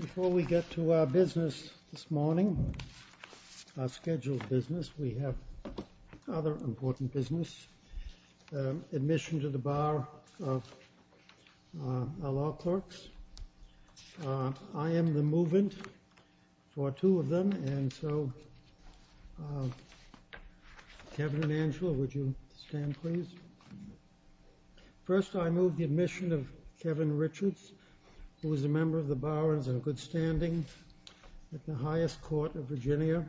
Before we get to our business this morning, our scheduled business, we have other important business. Admission to the bar of our law clerks. I am the move-in for two of them, and so Kevin and Angela, would you stand, please? First, I move the admission of Kevin Richards, who is a member of the Barons in a good standing at the highest court of Virginia.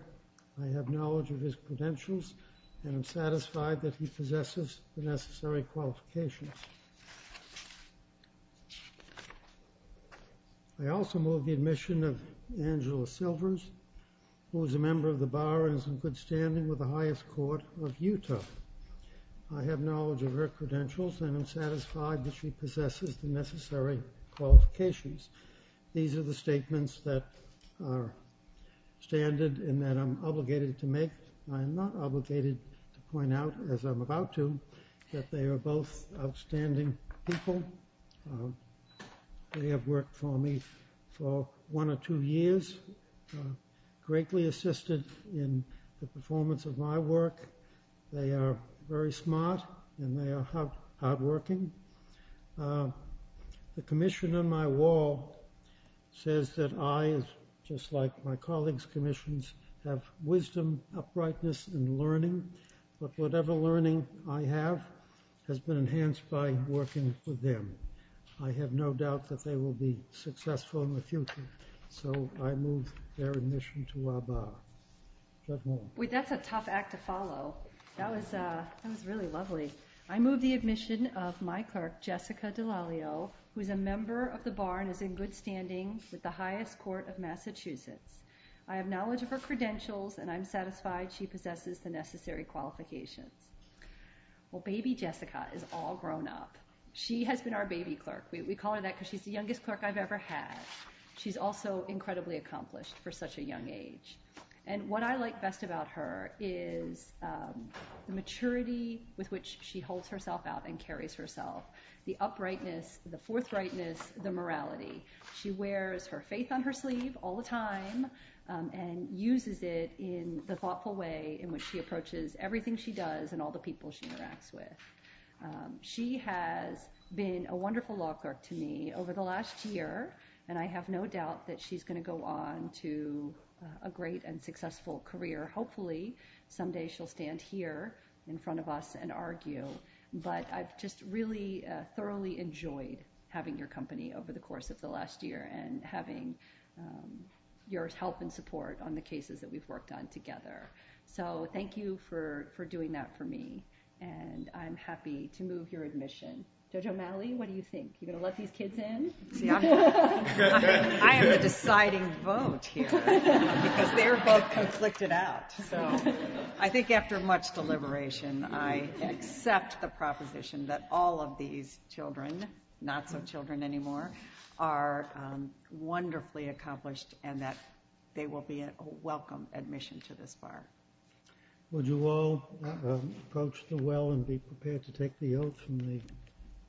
I have knowledge of his credentials and I'm satisfied that he possesses the necessary qualifications. I also move the admission of Angela Silvers, who is a member of the Barons in good standing with the highest court of Utah. I have knowledge of her credentials and I'm satisfied that she possesses the necessary qualifications. These are the statements that are standard and that I'm obligated to make. I am not obligated to point out, as I'm about to, that they are both outstanding people. They have worked for me for one or two years, greatly assisted in the performance of my work. They are very smart and they are hard-working. The commission on my wall says that I, just like my colleagues' commissions, have wisdom, uprightness, and learning, but whatever learning I have has been enhanced by working with them. I have no doubt that they will be successful in the future, so I move their admission to our Bar. That's a tough act to follow. That was really lovely. I move the admission of my clerk, Jessica Delaglio, who is a member of the Barons in good standing with the highest court of Massachusetts. I have knowledge of her credentials and I'm satisfied she possesses the necessary qualifications. Baby Jessica is all grown up. She has been our baby clerk. We call her that because she's the youngest clerk I've ever had. She's also incredibly accomplished for such a young age. What I like best about her is the maturity with which she holds herself out and carries herself, the uprightness, the forthrightness, the morality. She is a wonderful person in the thoughtful way in which she approaches everything she does and all the people she interacts with. She has been a wonderful law clerk to me over the last year, and I have no doubt that she's going to go on to a great and successful career. Hopefully, someday she'll stand here in front of us and argue, but I've just really thoroughly enjoyed having your company over the last year and a half. Thank you for doing that for me, and I'm happy to move your admission. Judge O'Malley, what do you think? Are you going to let these kids in? I am the deciding vote here because they are both conflicted out. I think after much deliberation, I accept the proposition that all of these children, not so children anymore, are wonderfully accomplished and that they will be a welcome admission to this bar. Would you all approach the well and be prepared to take the oath from the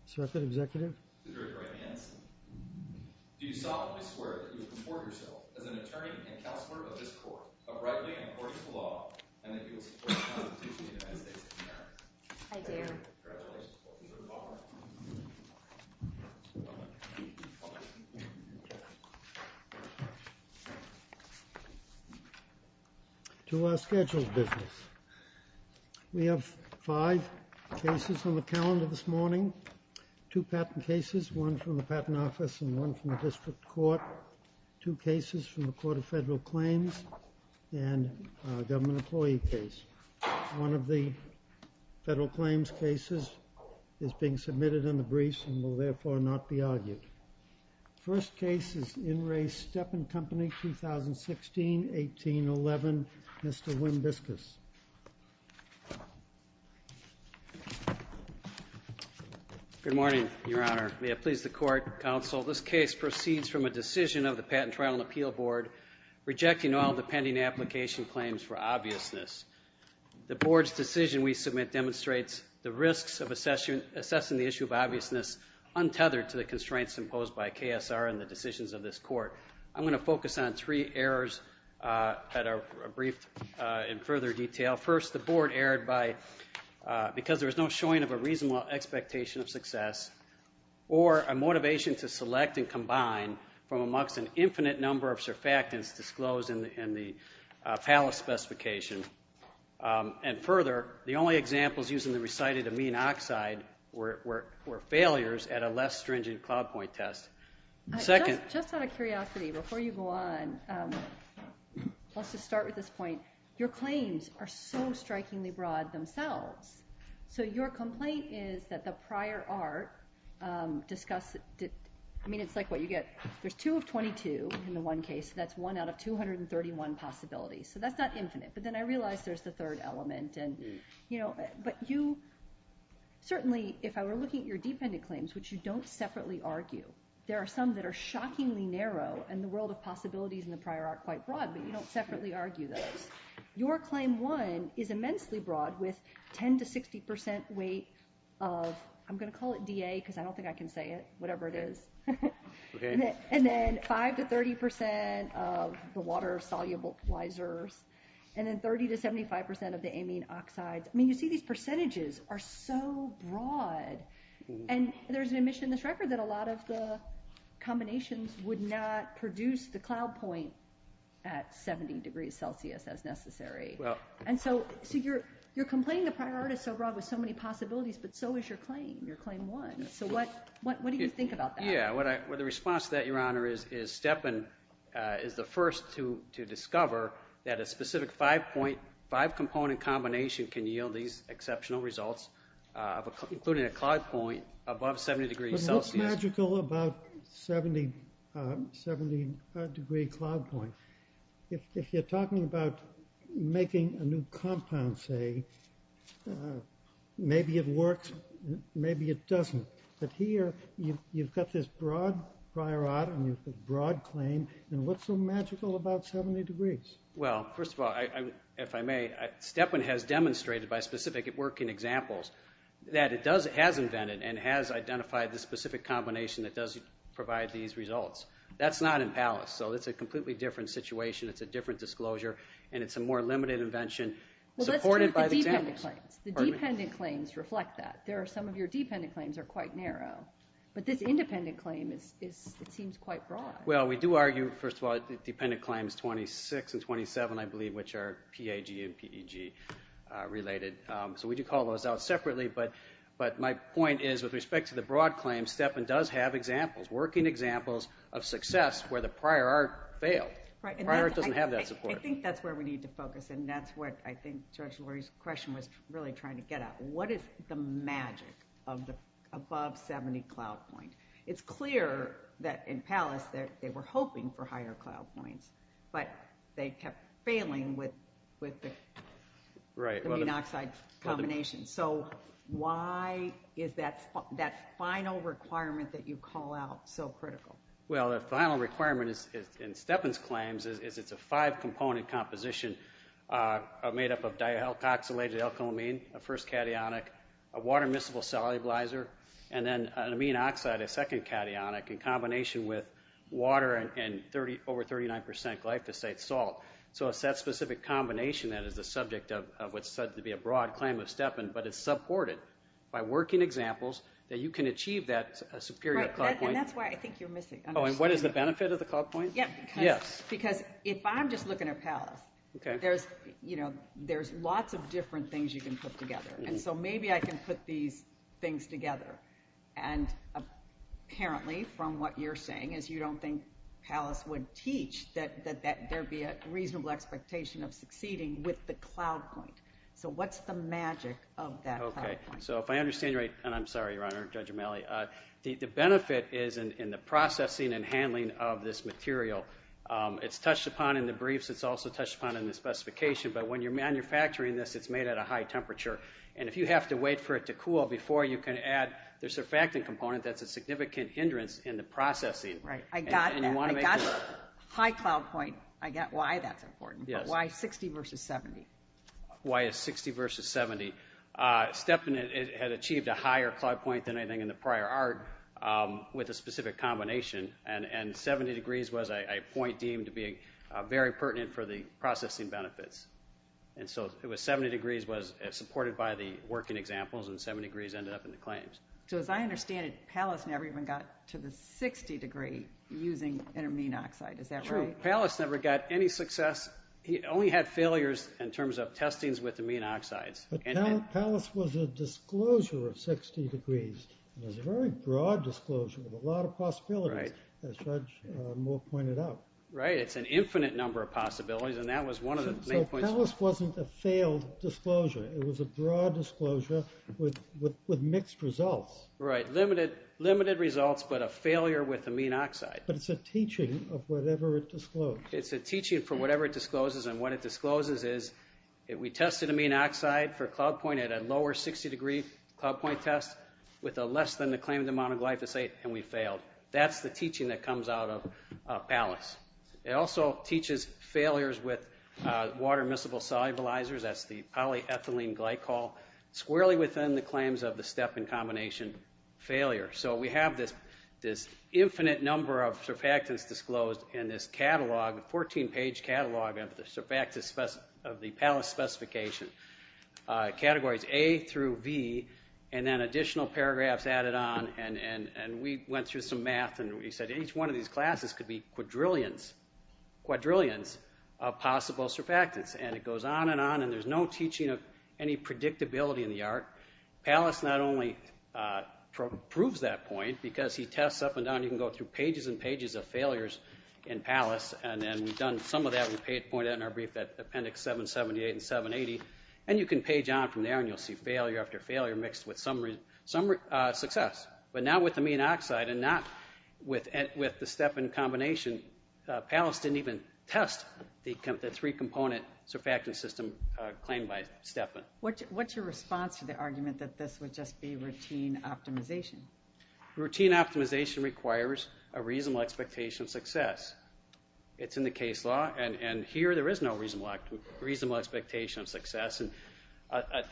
circuit executive? Do you solemnly swear that you will comport yourself as an attorney and counselor of this court, uprightly and according to law, and that you will support the Constitution of the United States of America? I do. To our scheduled business, we have five cases on the calendar this morning, two patent cases, one from the Patent Office and one from the District Court, two cases from the Court of Federal Claims and a government employee case. One of the Federal Claims cases is being submitted in the briefs and will therefore not be argued. First case is In Re Steppen Company, 2016-1811, Mr. Wim Biskus. Good morning, Your Honor. May it please the Court, Counsel, this case proceeds from a decision of the Patent Trial and Appeal Board rejecting all the pending application claims for obviousness. The Board's decision we submit demonstrates the risks of assessing the issue of obviousness untethered to the constraints imposed by KSR and the decisions of this court. I'm going to focus on three errors that are briefed in further detail. First, the Board erred because there was no showing of a reasonable expectation of success or a motivation to select and combine from amongst an infinite number of surfactants disclosed in the FALA specification. And further, the only examples used in the recited amine oxide were failures at a less stringent cloud point test. Just out of curiosity, before you go on, let's just start with this point. Your claims are so strikingly broad themselves. So your complaint is that the prior art discusses, I mean it's like what you get, there's two of 22 in the one case, that's one out of 231 possibilities. So that's not infinite, but then I realize there's the third element. But you, certainly if I were looking at your dependent claims, which you don't separately argue, there are some that are shockingly narrow and the world of possibilities in the prior art quite broad, but you don't separately argue those. Your claim one is immensely broad with 10 to 60% weight of, I'm going to call it DA because I don't think I can say it, whatever it is, and then 5 to 30% of the water soluble plizers and then 30 to 75% of the amine oxides. I mean you see these percentages are so broad and there's an admission in this record that a lot of the combinations would not produce the cloud point at 70 degrees Celsius as necessary. And so you're complaining the prior art is so broad with so many possibilities, but so is your claim, your claim one. So what do you think about that? The response to that, your honor, is Stepan is the first to discover that a specific five component combination can yield these exceptional results, including a cloud point above 70 degrees Celsius. What's so magical about 70 degree cloud point? If you're talking about making a new compound, say, maybe it works, maybe it doesn't, but here you've got this broad prior art and you've got this broad claim and what's so magical about 70 degrees? Well, first of all, if I may, Stepan has demonstrated by specific working examples that it has invented and has identified the specific combination that does provide these results. That's not in Pallas, so it's a completely different situation, it's a different disclosure, and it's a more limited invention supported by the examples. The dependent claims reflect that. Some of your dependent claims are quite narrow, but this independent claim seems quite broad. Well, we do argue, first of all, dependent claims 26 and 27, I believe, which are PAG and PEG related, so we do call those out separately, but my point is, with respect to the broad claim, Stepan does have examples, working examples of success where the prior art failed. Prior art doesn't have that support. I think that's where we need to focus, and that's what I think George-Laurie's question was really trying to get at. What is the magic of the above 70 cloud point? It's clear that in Pallas, they were hoping for higher cloud points, but they kept failing with the amine oxide combination, so why is that final requirement that you call out so critical? Well, the final requirement in Stepan's claims is it's a five-component composition made up of dioxylated alkyl amine, a first cationic, a water miscible solubilizer, and then an amine oxide, a second cationic, in combination with water and over 39% glyphosate salt. So it's that specific combination that is the subject of what's said to be a broad claim of Stepan, but it's supported by working examples that you can achieve that superior cloud point. And that's why I think you're missing. Oh, and what is the benefit of the cloud point? Because if I'm just looking at Pallas, there's lots of different things you can put together, and so maybe I can put these things together. And apparently, from what you're saying, is you don't think Pallas would teach that there'd be a reasonable expectation of succeeding with the cloud point. So what's the magic of that cloud point? So if I understand you right, and I'm sorry, Your Honor, Judge O'Malley, the benefit is in the processing and handling of this material. It's touched upon in the briefs. It's also touched upon in the specification. But when you're manufacturing this, it's made at a high temperature. And if you have to wait for it to cool before you can add the surfactant component, that's a significant hindrance in the processing. Right. I got that. I got high cloud point. I got why that's important. But why 60 versus 70? Why is 60 versus 70? Stephanie had achieved a higher cloud point than anything in the prior art with a specific combination. And 70 degrees was a point deemed to be very pertinent for the processing benefits. And so 70 degrees was supported by the working examples, and 70 degrees ended up in the claims. So as I understand it, Pallas never even got to the 60 degree using an amine oxide. Is that right? True. Pallas never got any success. He only had failures in terms of testings with amine oxides. But Pallas was a disclosure of 60 degrees. It was a very broad disclosure with a lot of possibilities, as Judge Moore pointed out. Right. It's an infinite number of possibilities, and that was one of the main points. So Pallas wasn't a failed disclosure. It was a broad disclosure with mixed results. Right. Limited results, but a failure with amine oxide. But it's a teaching of whatever it disclosed. It's a teaching for whatever it discloses. And what it discloses is we tested amine oxide for cloud point at a lower 60 degree cloud point test with a less than the claimed amount of glyphosate, and we failed. That's the teaching that comes out of Pallas. It also teaches failures with water miscible solubilizers, that's the polyethylene glycol, squarely within the claims of the step and combination failure. So we have this infinite number of surfactants disclosed in this catalog, a 14-page catalog of the Pallas specification, categories A through B, and then additional paragraphs added on, and we went through some math, and we said each one of these classes could be quadrillions of possible surfactants. And it goes on and on, and there's no teaching of any predictability in the art. Pallas not only proves that point because he tests up and down. You can go through pages and pages of failures in Pallas, and we've done some of that, we pointed out in our brief that Appendix 778 and 780, and you can page on from there and you'll see failure after failure mixed with some success. But now with amine oxide and not with the step and combination, Pallas didn't even test the three-component surfactant system claimed by Stepan. What's your response to the argument that this would just be routine optimization? Routine optimization requires a reasonable expectation of success. It's in the case law, and here there is no reasonable expectation of success.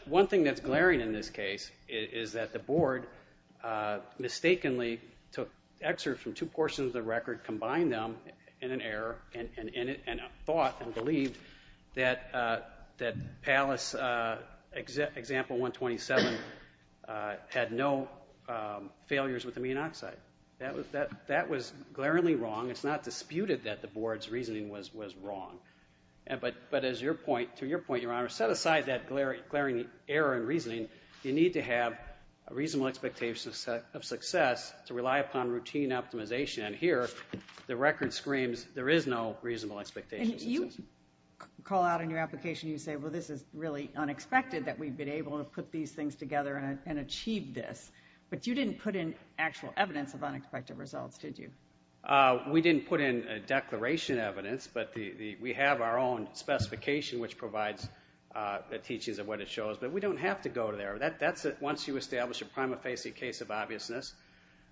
One thing that's glaring in this case is that the board mistakenly took excerpts from two portions of the record, combined them in an error, and thought and believed that Pallas example 127 had no failures with amine oxide. That was glaringly wrong. It's not disputed that the board's reasoning was wrong. But to your point, Your Honor, set aside that glaring error in reasoning. You need to have a reasonable expectation of success to rely upon routine optimization. And here the record screams there is no reasonable expectation of success. You call out in your application, you say, well, this is really unexpected that we've been able to put these things together and achieve this. But you didn't put in actual evidence of unexpected results, did you? We didn't put in declaration evidence, but we have our own specification which provides the teachings of what it shows, but we don't have to go there. Once you establish a prima facie case of obviousness,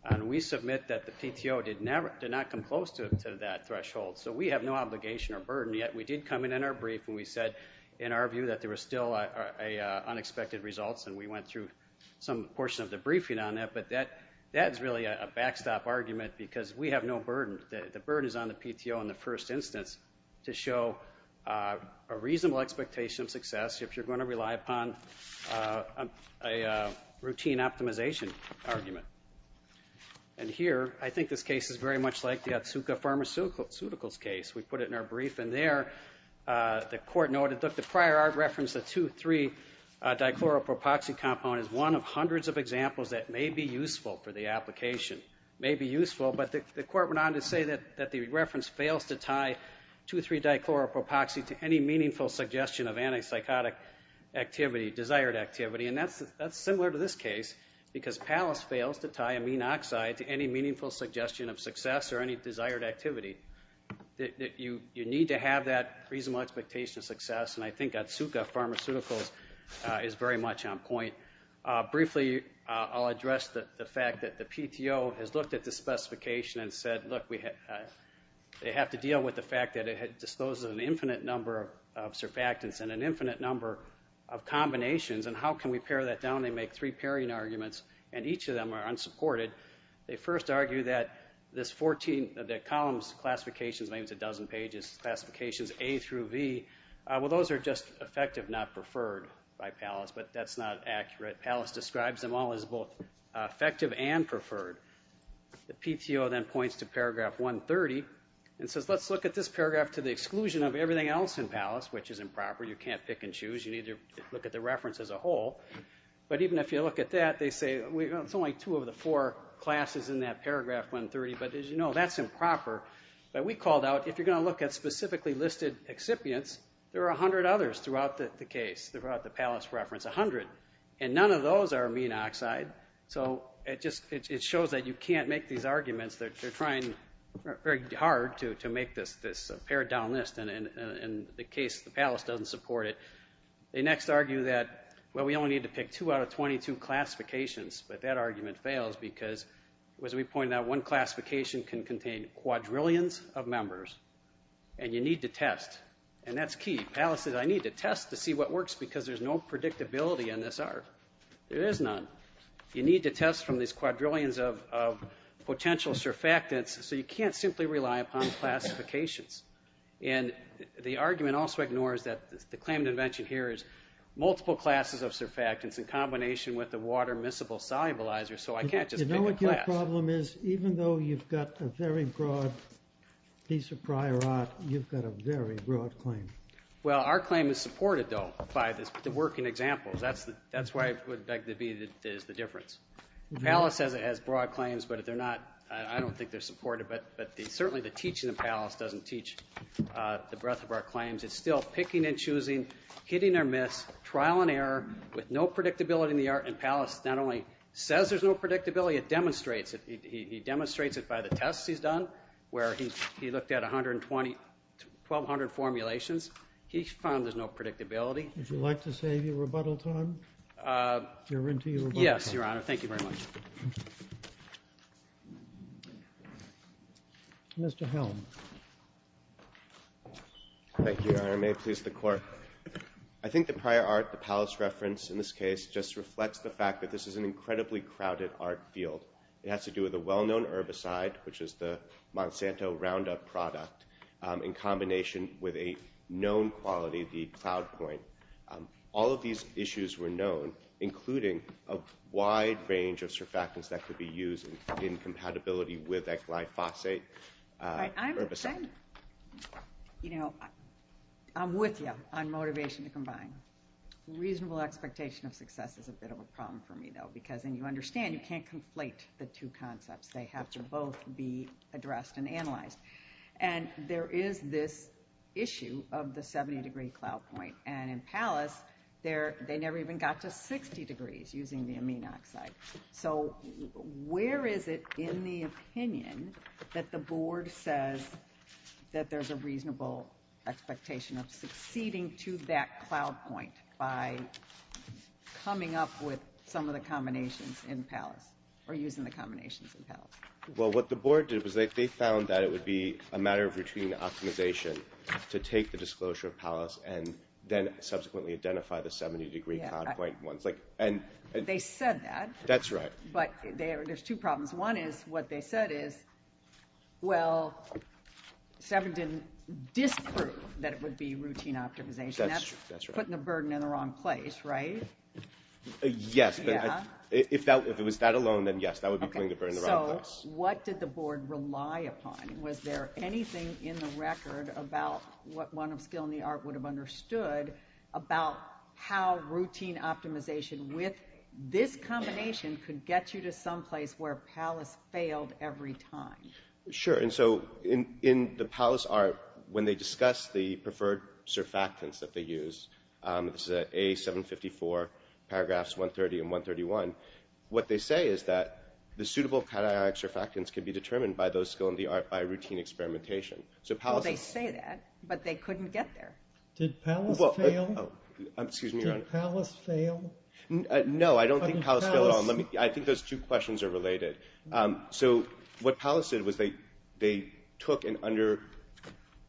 and we submit that the PTO did not come close to that threshold, so we have no obligation or burden, yet we did come in in our brief and we said in our view that there was still unexpected results, and we went through some portion of the briefing on that. But that is really a backstop argument because we have no burden. The burden is on the PTO in the first instance to show a reasonable expectation of success if you're going to rely upon a routine optimization argument. And here I think this case is very much like the Otsuka Pharmaceuticals case. We put it in our brief, and there the court noted that the prior art reference, the 2,3-dichloropropoxy compound, is one of hundreds of examples that may be useful for the application. May be useful, but the court went on to say that the reference fails to tie 2,3-dichloropropoxy to any meaningful suggestion of antipsychotic activity, desired activity, and that's similar to this case because Pallas fails to tie amine oxide to any meaningful suggestion of success or any desired activity. You need to have that reasonable expectation of success, and I think Otsuka Pharmaceuticals is very much on point. Briefly, I'll address the fact that the PTO has looked at the specification and said, look, they have to deal with the fact that it discloses an infinite number of surfactants and an infinite number of combinations, and how can we pare that down? They make three pairing arguments, and each of them are unsupported. They first argue that this 14 of the columns, classifications, maybe it's a dozen pages, classifications A through V, well, those are just effective, not preferred by Pallas, but that's not accurate. Pallas describes them all as both effective and preferred. The PTO then points to paragraph 130 and says, let's look at this paragraph to the exclusion of everything else in Pallas, which is improper. You can't pick and choose. You need to look at the reference as a whole. But even if you look at that, they say it's only two of the four classes in that paragraph 130, but as you know, that's improper. But we called out, if you're going to look at specifically listed excipients, there are 100 others throughout the case, throughout the Pallas reference, 100, and none of those are amine oxide. So it shows that you can't make these arguments. They're trying very hard to make this pared-down list, and the Pallas doesn't support it. They next argue that, well, we only need to pick two out of 22 classifications, but that argument fails because, as we pointed out, one classification can contain quadrillions of members, and you need to test. And that's key. Pallas says, I need to test to see what works because there's no predictability in this ARF. There is none. You need to test from these quadrillions of potential surfactants, so you can't simply rely upon classifications. And the argument also ignores that the claim to mention here is multiple classes of surfactants in combination with the water miscible solubilizer, so I can't just pick a class. You know what your problem is? Even though you've got a very broad piece of prior art, you've got a very broad claim. Well, our claim is supported, though, by the working examples. That's why I would beg to be the difference. Pallas says it has broad claims, but I don't think they're supported. But certainly the teaching in Pallas doesn't teach the breadth of our claims. It's still picking and choosing, hitting or miss, trial and error, with no predictability in the art. And Pallas not only says there's no predictability, it demonstrates it. He demonstrates it by the tests he's done, where he looked at 1,200 formulations. He found there's no predictability. Would you like to save your rebuttal time? Yes, Your Honor. Thank you very much. Mr. Helm. Thank you, Your Honor. May it please the Court. I think the prior art that Pallas referenced in this case just reflects the fact that this is an incredibly crowded art field. It has to do with a well-known herbicide, which is the Monsanto Roundup product, in combination with a known quality, the Cloud Point. All of these issues were known, including a wide range of surfactants that could be used in compatibility with that glyphosate herbicide. I'm with you on motivation to combine. Reasonable expectation of success is a bit of a problem for me, though, because then you understand you can't conflate the two concepts. They have to both be addressed and analyzed. And there is this issue of the 70-degree Cloud Point, and in Pallas they never even got to 60 degrees using the amine oxide. So where is it in the opinion that the Board says that there's a reasonable expectation of succeeding to that Cloud Point by coming up with some of the combinations in Pallas or using the combinations in Pallas? Well, what the Board did was they found that it would be a matter of routine optimization to take the disclosure of Pallas and then subsequently identify the 70-degree Cloud Point. They said that. That's right. But there's two problems. One is, what they said is, well, Severin didn't disprove that it would be routine optimization. That's right. That's putting the burden in the wrong place, right? Yes, but if it was that alone, then yes, that would be putting the burden in the wrong place. So what did the Board rely upon? Was there anything in the record about what one of skill in the art would have understood about how routine optimization with this combination could get you to someplace where Pallas failed every time? Sure. And so in the Pallas art, when they discuss the preferred surfactants that they use, this is at A754, paragraphs 130 and 131, what they say is that the suitable cationic surfactants can be determined by those skill in the art by routine experimentation. Well, they say that, but they couldn't get there. Did Pallas fail? Excuse me, Your Honor. Did Pallas fail? No, I don't think Pallas failed at all. I think those two questions are related. So what Pallas did was they took and under –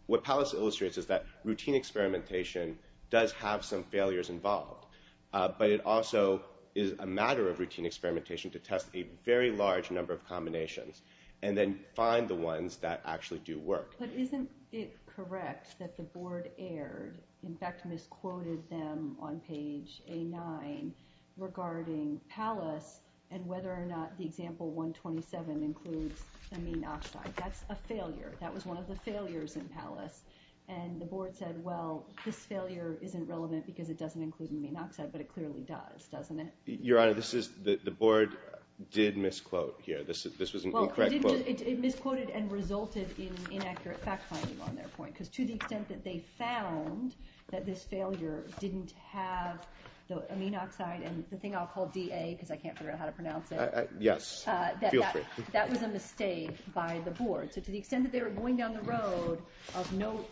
what Pallas illustrates is that routine experimentation does have some failures involved, but it also is a matter of routine experimentation to test a very large number of combinations and then find the ones that actually do work. But isn't it correct that the Board erred, in fact, misquoted them on page A9 regarding Pallas and whether or not the example 127 includes amine oxide? That's a failure. That was one of the failures in Pallas. And the Board said, well, this failure isn't relevant because it doesn't include amine oxide, but it clearly does, doesn't it? Your Honor, this is – the Board did misquote here. This was an incorrect quote. Well, it misquoted and resulted in inaccurate fact-finding on their point because to the extent that they found that this failure didn't have the amine oxide and the thing I'll call DA because I can't figure out how to pronounce it. Yes, feel free. That was a mistake by the Board. So to the extent that they were going down the road of no –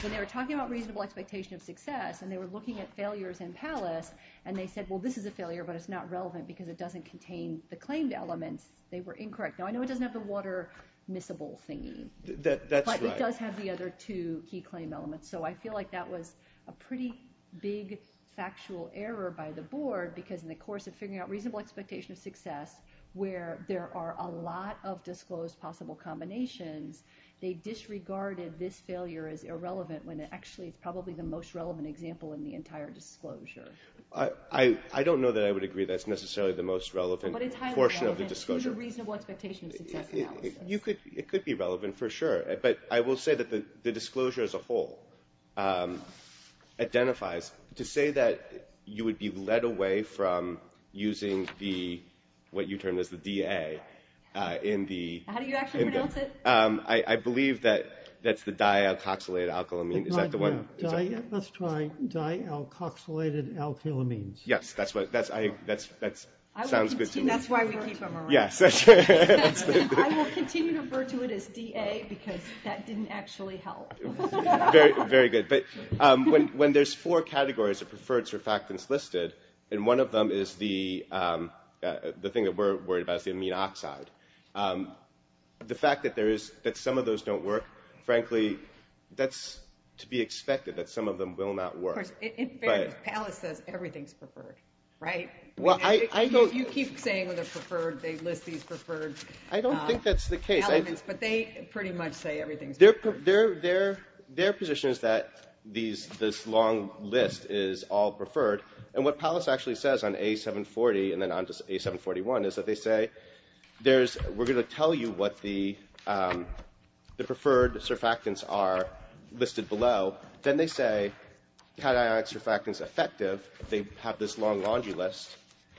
when they were talking about reasonable expectation of success and they were looking at failures in Pallas and they said, well, this is a failure but it's not relevant because it doesn't contain the claimed elements, they were incorrect. Now, I know it doesn't have the water miscible thingy. That's right. But it does have the other two key claim elements. So I feel like that was a pretty big factual error by the Board because in the course of figuring out reasonable expectation of success where there are a lot of disclosed possible combinations, they disregarded this failure as irrelevant when actually it's probably the most relevant example in the entire disclosure. I don't know that I would agree that's necessarily the most relevant portion of the disclosure. But it's highly relevant. It's a reasonable expectation of success analysis. It could be relevant for sure. But I will say that the disclosure as a whole identifies – to say that you would be led away from using the – what you termed as the DA in the – How do you actually pronounce it? I believe that that's the di-alcoxylated alkylamine. Is that the one? Let's try di-alcoxylated alkylamines. Yes. That sounds good to me. That's why we keep them around. Yes. I will continue to refer to it as DA because that didn't actually help. Very good. But when there's four categories of preferred surfactants listed and one of them is the thing that we're worried about is the amine oxide, the fact that some of those don't work, frankly, that's to be expected that some of them will not work. Of course. In fairness, Palace says everything's preferred, right? You keep saying they list these preferred elements, but they pretty much say everything's preferred. Their position is that this long list is all preferred, and what Palace actually says on A740 and then on A741 is that they say, we're going to tell you what the preferred surfactants are listed below. Then they say cationic surfactant's effective. They have this long laundry list,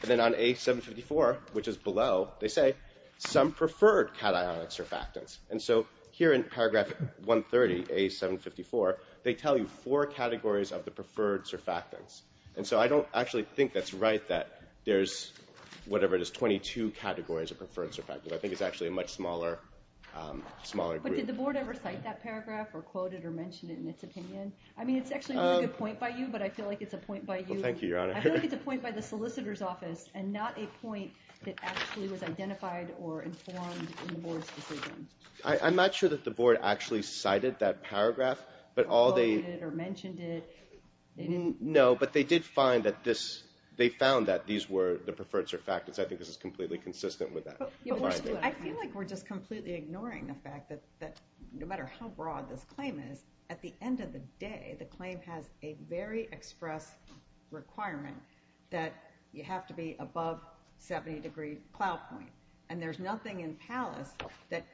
and then on A754, which is below, they say some preferred cationic surfactants. And so here in paragraph 130, A754, they tell you four categories of the preferred surfactants. And so I don't actually think that's right that there's whatever it is, 22 categories of preferred surfactants. I think it's actually a much smaller group. But did the board ever cite that paragraph or quote it or mention it in its opinion? I mean, it's actually a good point by you, but I feel like it's a point by you. Well, thank you, Your Honor. I feel like it's a point by the solicitor's office and not a point that actually was identified or informed in the board's decision. I'm not sure that the board actually cited that paragraph. Or quoted it or mentioned it. No, but they did find that this – they found that these were the preferred surfactants. I think this is completely consistent with that. I feel like we're just completely ignoring the fact that no matter how broad this claim is, at the end of the day, the claim has a very express requirement that you have to be above 70 degree plow point. And there's nothing in Pallas that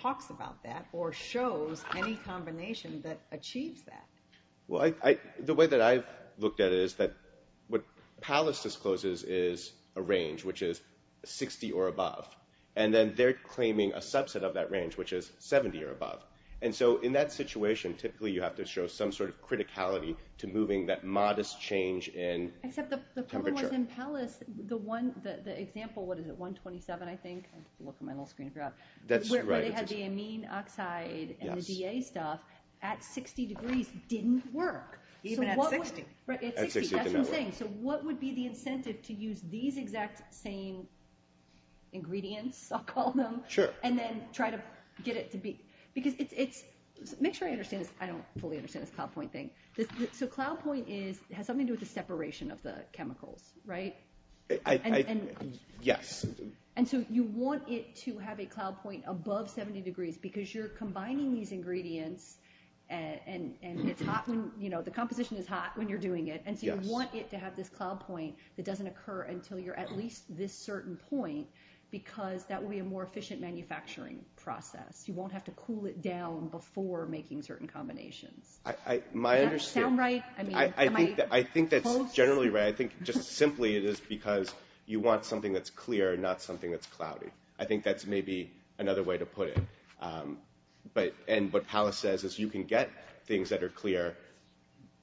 talks about that or shows any combination that achieves that. Well, the way that I've looked at it is that what Pallas discloses is a range, which is 60 or above. And then they're claiming a subset of that range, which is 70 or above. And so in that situation, typically you have to show some sort of criticality to moving that modest change in temperature. Except the problem was in Pallas, the one – the example – what is it, 127, I think? I have to look at my little screen if you're out. That's right. Where they had the amine oxide and the DA stuff at 60 degrees didn't work. Even at 60. Right, at 60. That's what I'm saying. So what would be the incentive to use these exact same ingredients, I'll call them, and then try to get it to be – because it's – make sure I understand this. I don't fully understand this cloud point thing. So cloud point is – has something to do with the separation of the chemicals, right? I – yes. And so you want it to have a cloud point above 70 degrees because you're combining these ingredients and it's hot when – the composition is hot when you're doing it. And so you want it to have this cloud point that doesn't occur until you're at least this certain point because that would be a more efficient manufacturing process. You won't have to cool it down before making certain combinations. Does that sound right? I think that's generally right. I think just simply it is because you want something that's clear and not something that's cloudy. I think that's maybe another way to put it. But – and what Pallas says is you can get things that are clear,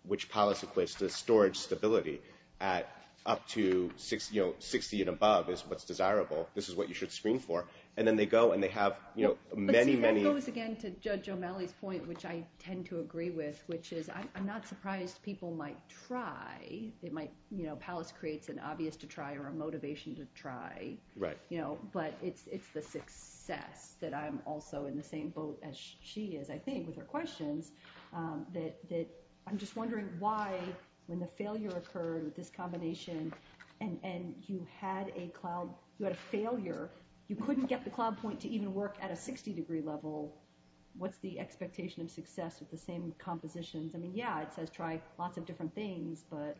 which Pallas equates to storage stability at up to 60 and above is what's desirable. This is what you should screen for. And then they go and they have many, many – But see, that goes again to Judge O'Malley's point, which I tend to agree with, which is I'm not surprised people might try. It might – Pallas creates an obvious to try or a motivation to try. Right. But it's the success that I'm also in the same boat as she is, I think, with her questions that I'm just wondering why when the failure occurred with this combination and you had a cloud – you had a failure, you couldn't get the cloud point to even work at a 60-degree level. What's the expectation of success with the same compositions? I mean, yeah, it says try lots of different things, but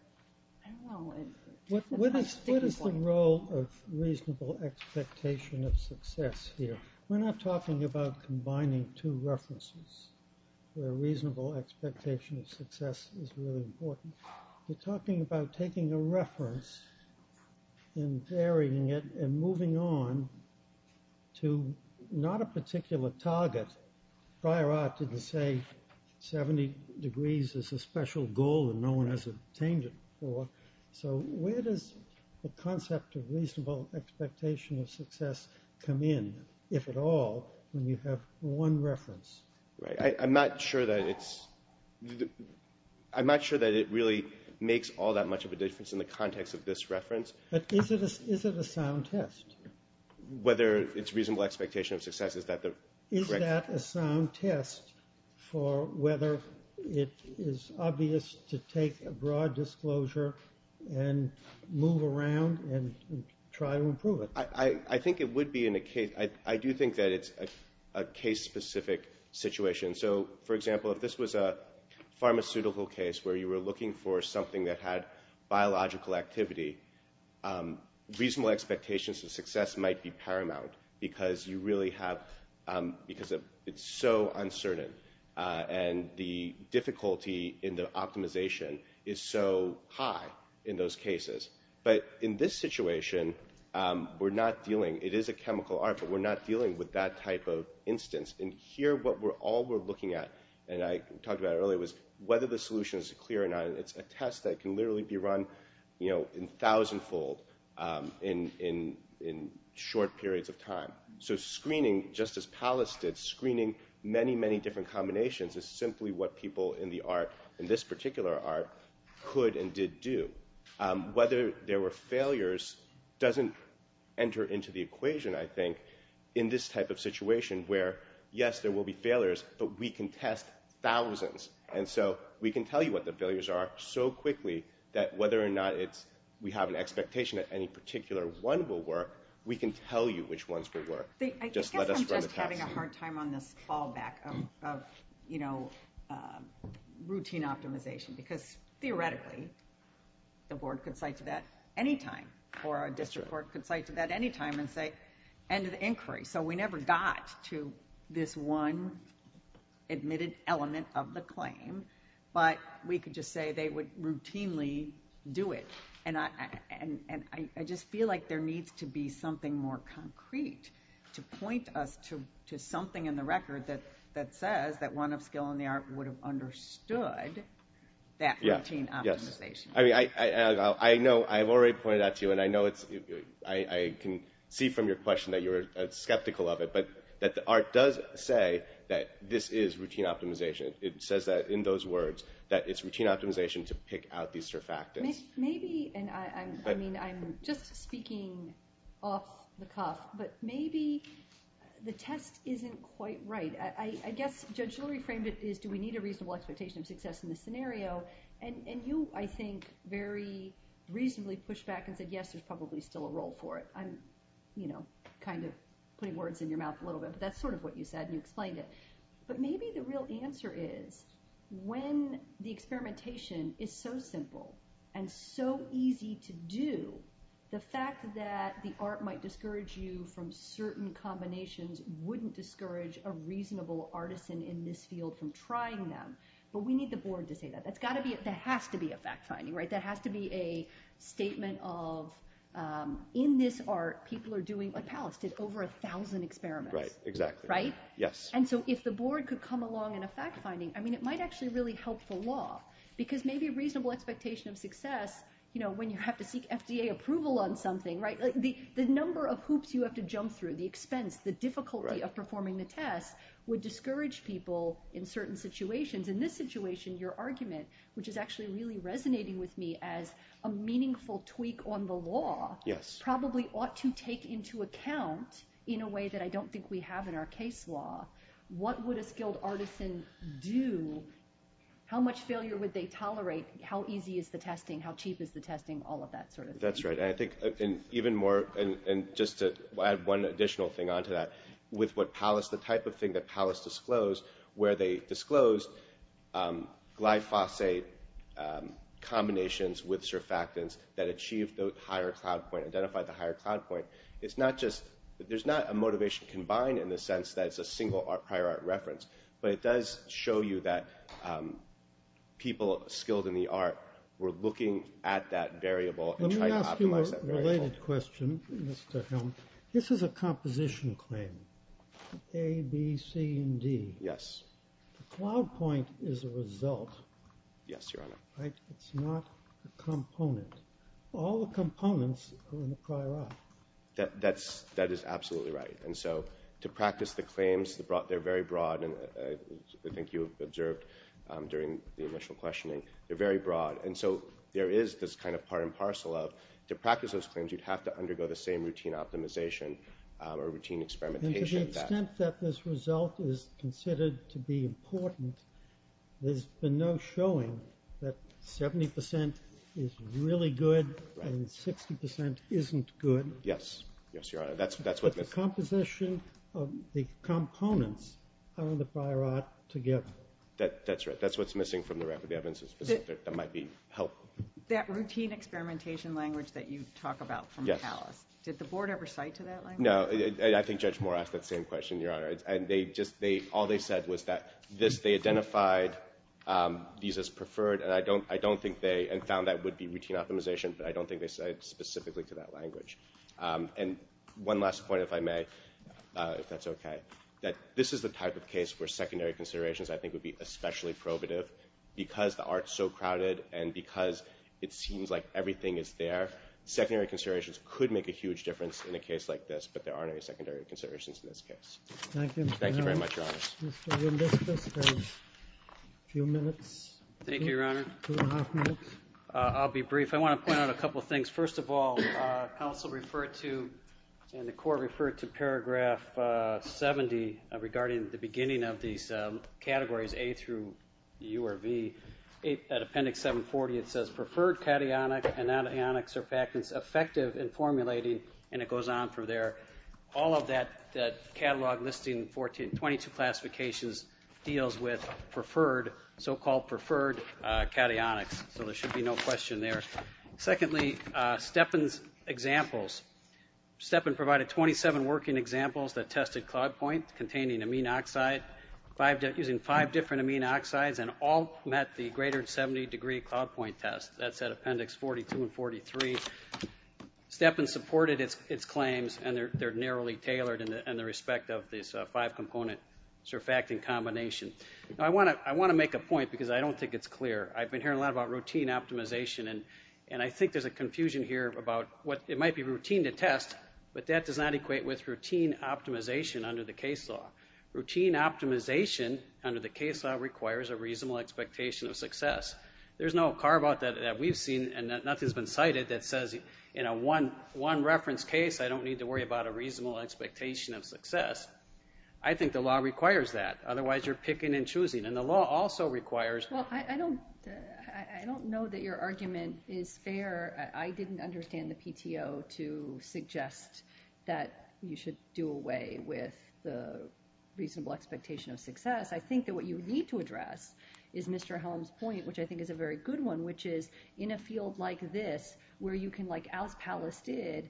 I don't know. What is the role of reasonable expectation of success here? We're not talking about combining two references where reasonable expectation of success is really important. We're talking about taking a reference and varying it and moving on to not a particular target. Prior art didn't say 70 degrees is a special goal and no one has obtained it before. So where does the concept of reasonable expectation of success come in, if at all, when you have one reference? Right. I'm not sure that it's – I'm not sure that it really makes all that much of a difference in the context of this reference. But is it a sound test? Whether it's reasonable expectation of success is that the – Is that a sound test for whether it is obvious to take a broad disclosure and move around and try to improve it? I think it would be in a case – I do think that it's a case-specific situation. So, for example, if this was a pharmaceutical case where you were looking for something that had biological activity, reasonable expectations of success might be paramount because you really have – because it's so uncertain. And the difficulty in the optimization is so high in those cases. But in this situation, we're not dealing – it is a chemical art, but we're not dealing with that type of instance. And here, what we're – all we're looking at, and I talked about earlier, was whether the solution is clear or not. It's a test that can literally be run in thousandfold in short periods of time. So screening, just as Pallas did, screening many, many different combinations is simply what people in the art, in this particular art, could and did do. Whether there were failures doesn't enter into the equation, I think, in this type of situation where, yes, there will be failures, but we can test thousands. And so we can tell you what the failures are so quickly that whether or not it's – we have an expectation that any particular one will work, we can tell you which ones will work. Just let us run the test. I guess I'm just having a hard time on this fallback of routine optimization because, theoretically, the board could cite to that anytime or a district board could cite to that anytime and say, end of inquiry. So we never got to this one admitted element of the claim, but we could just say they would routinely do it. And I just feel like there needs to be something more concrete to point us to something in the record that says that one of skill in the art would have understood that routine optimization. I know I've already pointed that to you, and I know it's – I can see from your question that you're skeptical of it, but that the art does say that this is routine optimization. It says that in those words, that it's routine optimization to pick out these surfactants. Maybe, and I mean I'm just speaking off the cuff, but maybe the test isn't quite right. I guess Judge Shuler reframed it as do we need a reasonable expectation of success in this scenario, and you, I think, very reasonably pushed back and said, yes, there's probably still a role for it. I'm, you know, kind of putting words in your mouth a little bit, but that's sort of what you said and you explained it. But maybe the real answer is when the experimentation is so simple and so easy to do, the fact that the art might discourage you from certain combinations wouldn't discourage a reasonable artisan in this field from trying them. But we need the board to say that. That's got to be – there has to be a fact-finding, right? There has to be a statement of in this art people are doing – like Palace did over a thousand experiments. Right, exactly. Right? Yes. And so if the board could come along in a fact-finding, I mean it might actually really help the law because maybe a reasonable expectation of success, you know, when you have to seek FDA approval on something, right, the number of hoops you have to jump through, the expense, the difficulty of performing the test would discourage people in certain situations. In this situation, your argument, which is actually really resonating with me as a meaningful tweak on the law, probably ought to take into account, in a way that I don't think we have in our case law, what would a skilled artisan do? How much failure would they tolerate? How easy is the testing? How cheap is the testing? All of that sort of thing. That's right. And I think even more, and just to add one additional thing onto that, with what Pallas, the type of thing that Pallas disclosed, where they disclosed glyphosate combinations with surfactants that achieved the higher cloud point, identified the higher cloud point, it's not just, there's not a motivation combined in the sense that it's a single prior art reference, but it does show you that people skilled in the art were looking at that variable and trying to optimize that variable. Let me ask you a related question, Mr. Helm. This is a composition claim, A, B, C, and D. Yes. The cloud point is a result. Yes, Your Honor. Right? It's not a component. All the components are in the prior art. That is absolutely right. And so to practice the claims, they're very broad, and I think you observed during the initial questioning, they're very broad. And so there is this kind of part and parcel of, to practice those claims, you'd have to undergo the same routine optimization or routine experimentation. And to the extent that this result is considered to be important, there's been no showing that 70% is really good and 60% isn't good. Yes. Yes, Your Honor. But the composition of the components are in the prior art together. That's right. That's what's missing from the record. The evidence is specific. That might be helpful. That routine experimentation language that you talk about from the palace, did the board ever cite to that language? No. I think Judge Moore asked that same question, Your Honor. And all they said was that they identified these as preferred, and I don't think they found that would be routine optimization, but I don't think they cited specifically to that language. And one last point, if I may, if that's okay, that this is the type of case where secondary considerations I think would be especially probative. Because the art is so crowded and because it seems like everything is there, secondary considerations could make a huge difference in a case like this, but there aren't any secondary considerations in this case. Thank you. Thank you very much, Your Honor. Mr. Willis, just a few minutes. Thank you, Your Honor. Two and a half minutes. I'll be brief. I want to point out a couple of things. First of all, counsel referred to, and the court referred to, paragraph 70 regarding the beginning of these categories, A through U or V. At appendix 740 it says, preferred cationic and anionic surfactants effective in formulating, and it goes on from there. All of that catalog listing, 22 classifications, deals with preferred, so-called preferred cationics. So there should be no question there. Secondly, Stepan's examples. Stepan provided 27 working examples that tested CloudPoint, containing amine oxide, using five different amine oxides, and all met the greater than 70 degree CloudPoint test. That's at appendix 42 and 43. Stepan supported its claims, and they're narrowly tailored in the respect of this five-component surfactant combination. I want to make a point because I don't think it's clear. I've been hearing a lot about routine optimization, and I think there's a confusion here about it might be routine to test, but that does not equate with routine optimization under the case law. Routine optimization under the case law requires a reasonable expectation of success. There's no carve-out that we've seen, and nothing's been cited, that says in a one-reference case, I don't need to worry about a reasonable expectation of success. I think the law requires that. Otherwise, you're picking and choosing. Well, I don't know that your argument is fair. I didn't understand the PTO to suggest that you should do away with the reasonable expectation of success. I think that what you need to address is Mr. Helm's point, which I think is a very good one, which is in a field like this, where you can, like Alice Pallas did,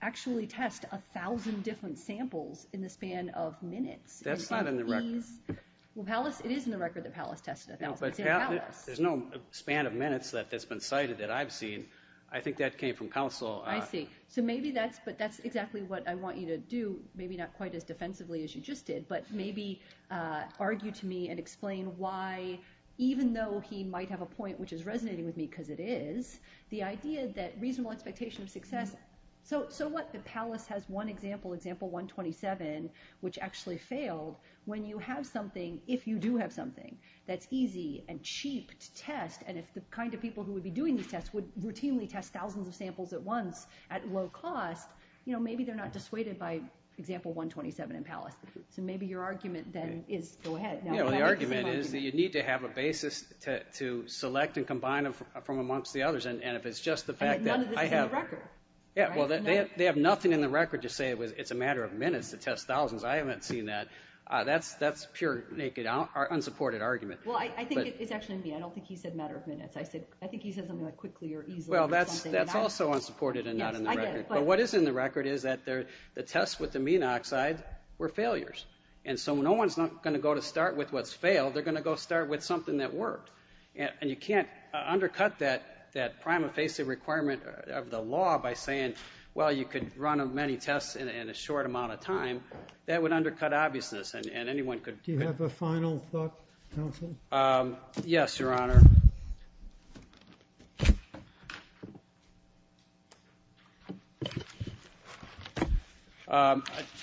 actually test 1,000 different samples in the span of minutes. That's not in the record. It is in the record that Pallas tested 1,000. But there's no span of minutes that's been cited that I've seen. I think that came from counsel. I see. So maybe that's exactly what I want you to do, maybe not quite as defensively as you just did, but maybe argue to me and explain why, even though he might have a point which is resonating with me, because it is, the idea that reasonable expectation of success... So what, that Pallas has one example, example 127, which actually failed. When you have something, if you do have something, that's easy and cheap to test, and if the kind of people who would be doing these tests would routinely test thousands of samples at once at low cost, maybe they're not dissuaded by example 127 in Pallas. So maybe your argument then is, go ahead. The argument is that you need to have a basis to select and combine them from amongst the others, and if it's just the fact that I have... And that none of this is in the record. Yeah, well, they have nothing in the record to say it's a matter of minutes to test thousands. I haven't seen that. That's pure, naked, unsupported argument. Well, I think it's actually me. I don't think he said matter of minutes. I think he said something like quickly or easily or something. Well, that's also unsupported and not in the record. Yes, I get it, but... But what is in the record is that the tests with amino oxide were failures. And so no one's going to go to start with what's failed. They're going to go start with something that worked. And you can't undercut that prime effasive requirement of the law by saying, well, you could run many tests in a short amount of time. That would undercut obviousness, and anyone could... Do you have a final thought, counsel? Yes, Your Honor. I'll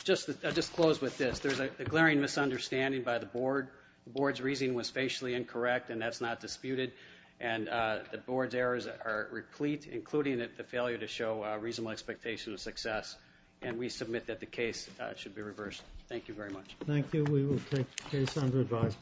just close with this. There's a glaring misunderstanding by the board. The board's reasoning was facially incorrect, and that's not disputed. And the board's errors are replete, including the failure to show reasonable expectation of success. And we submit that the case should be reversed. Thank you very much. Thank you. We will take the case under advisement. Thank you.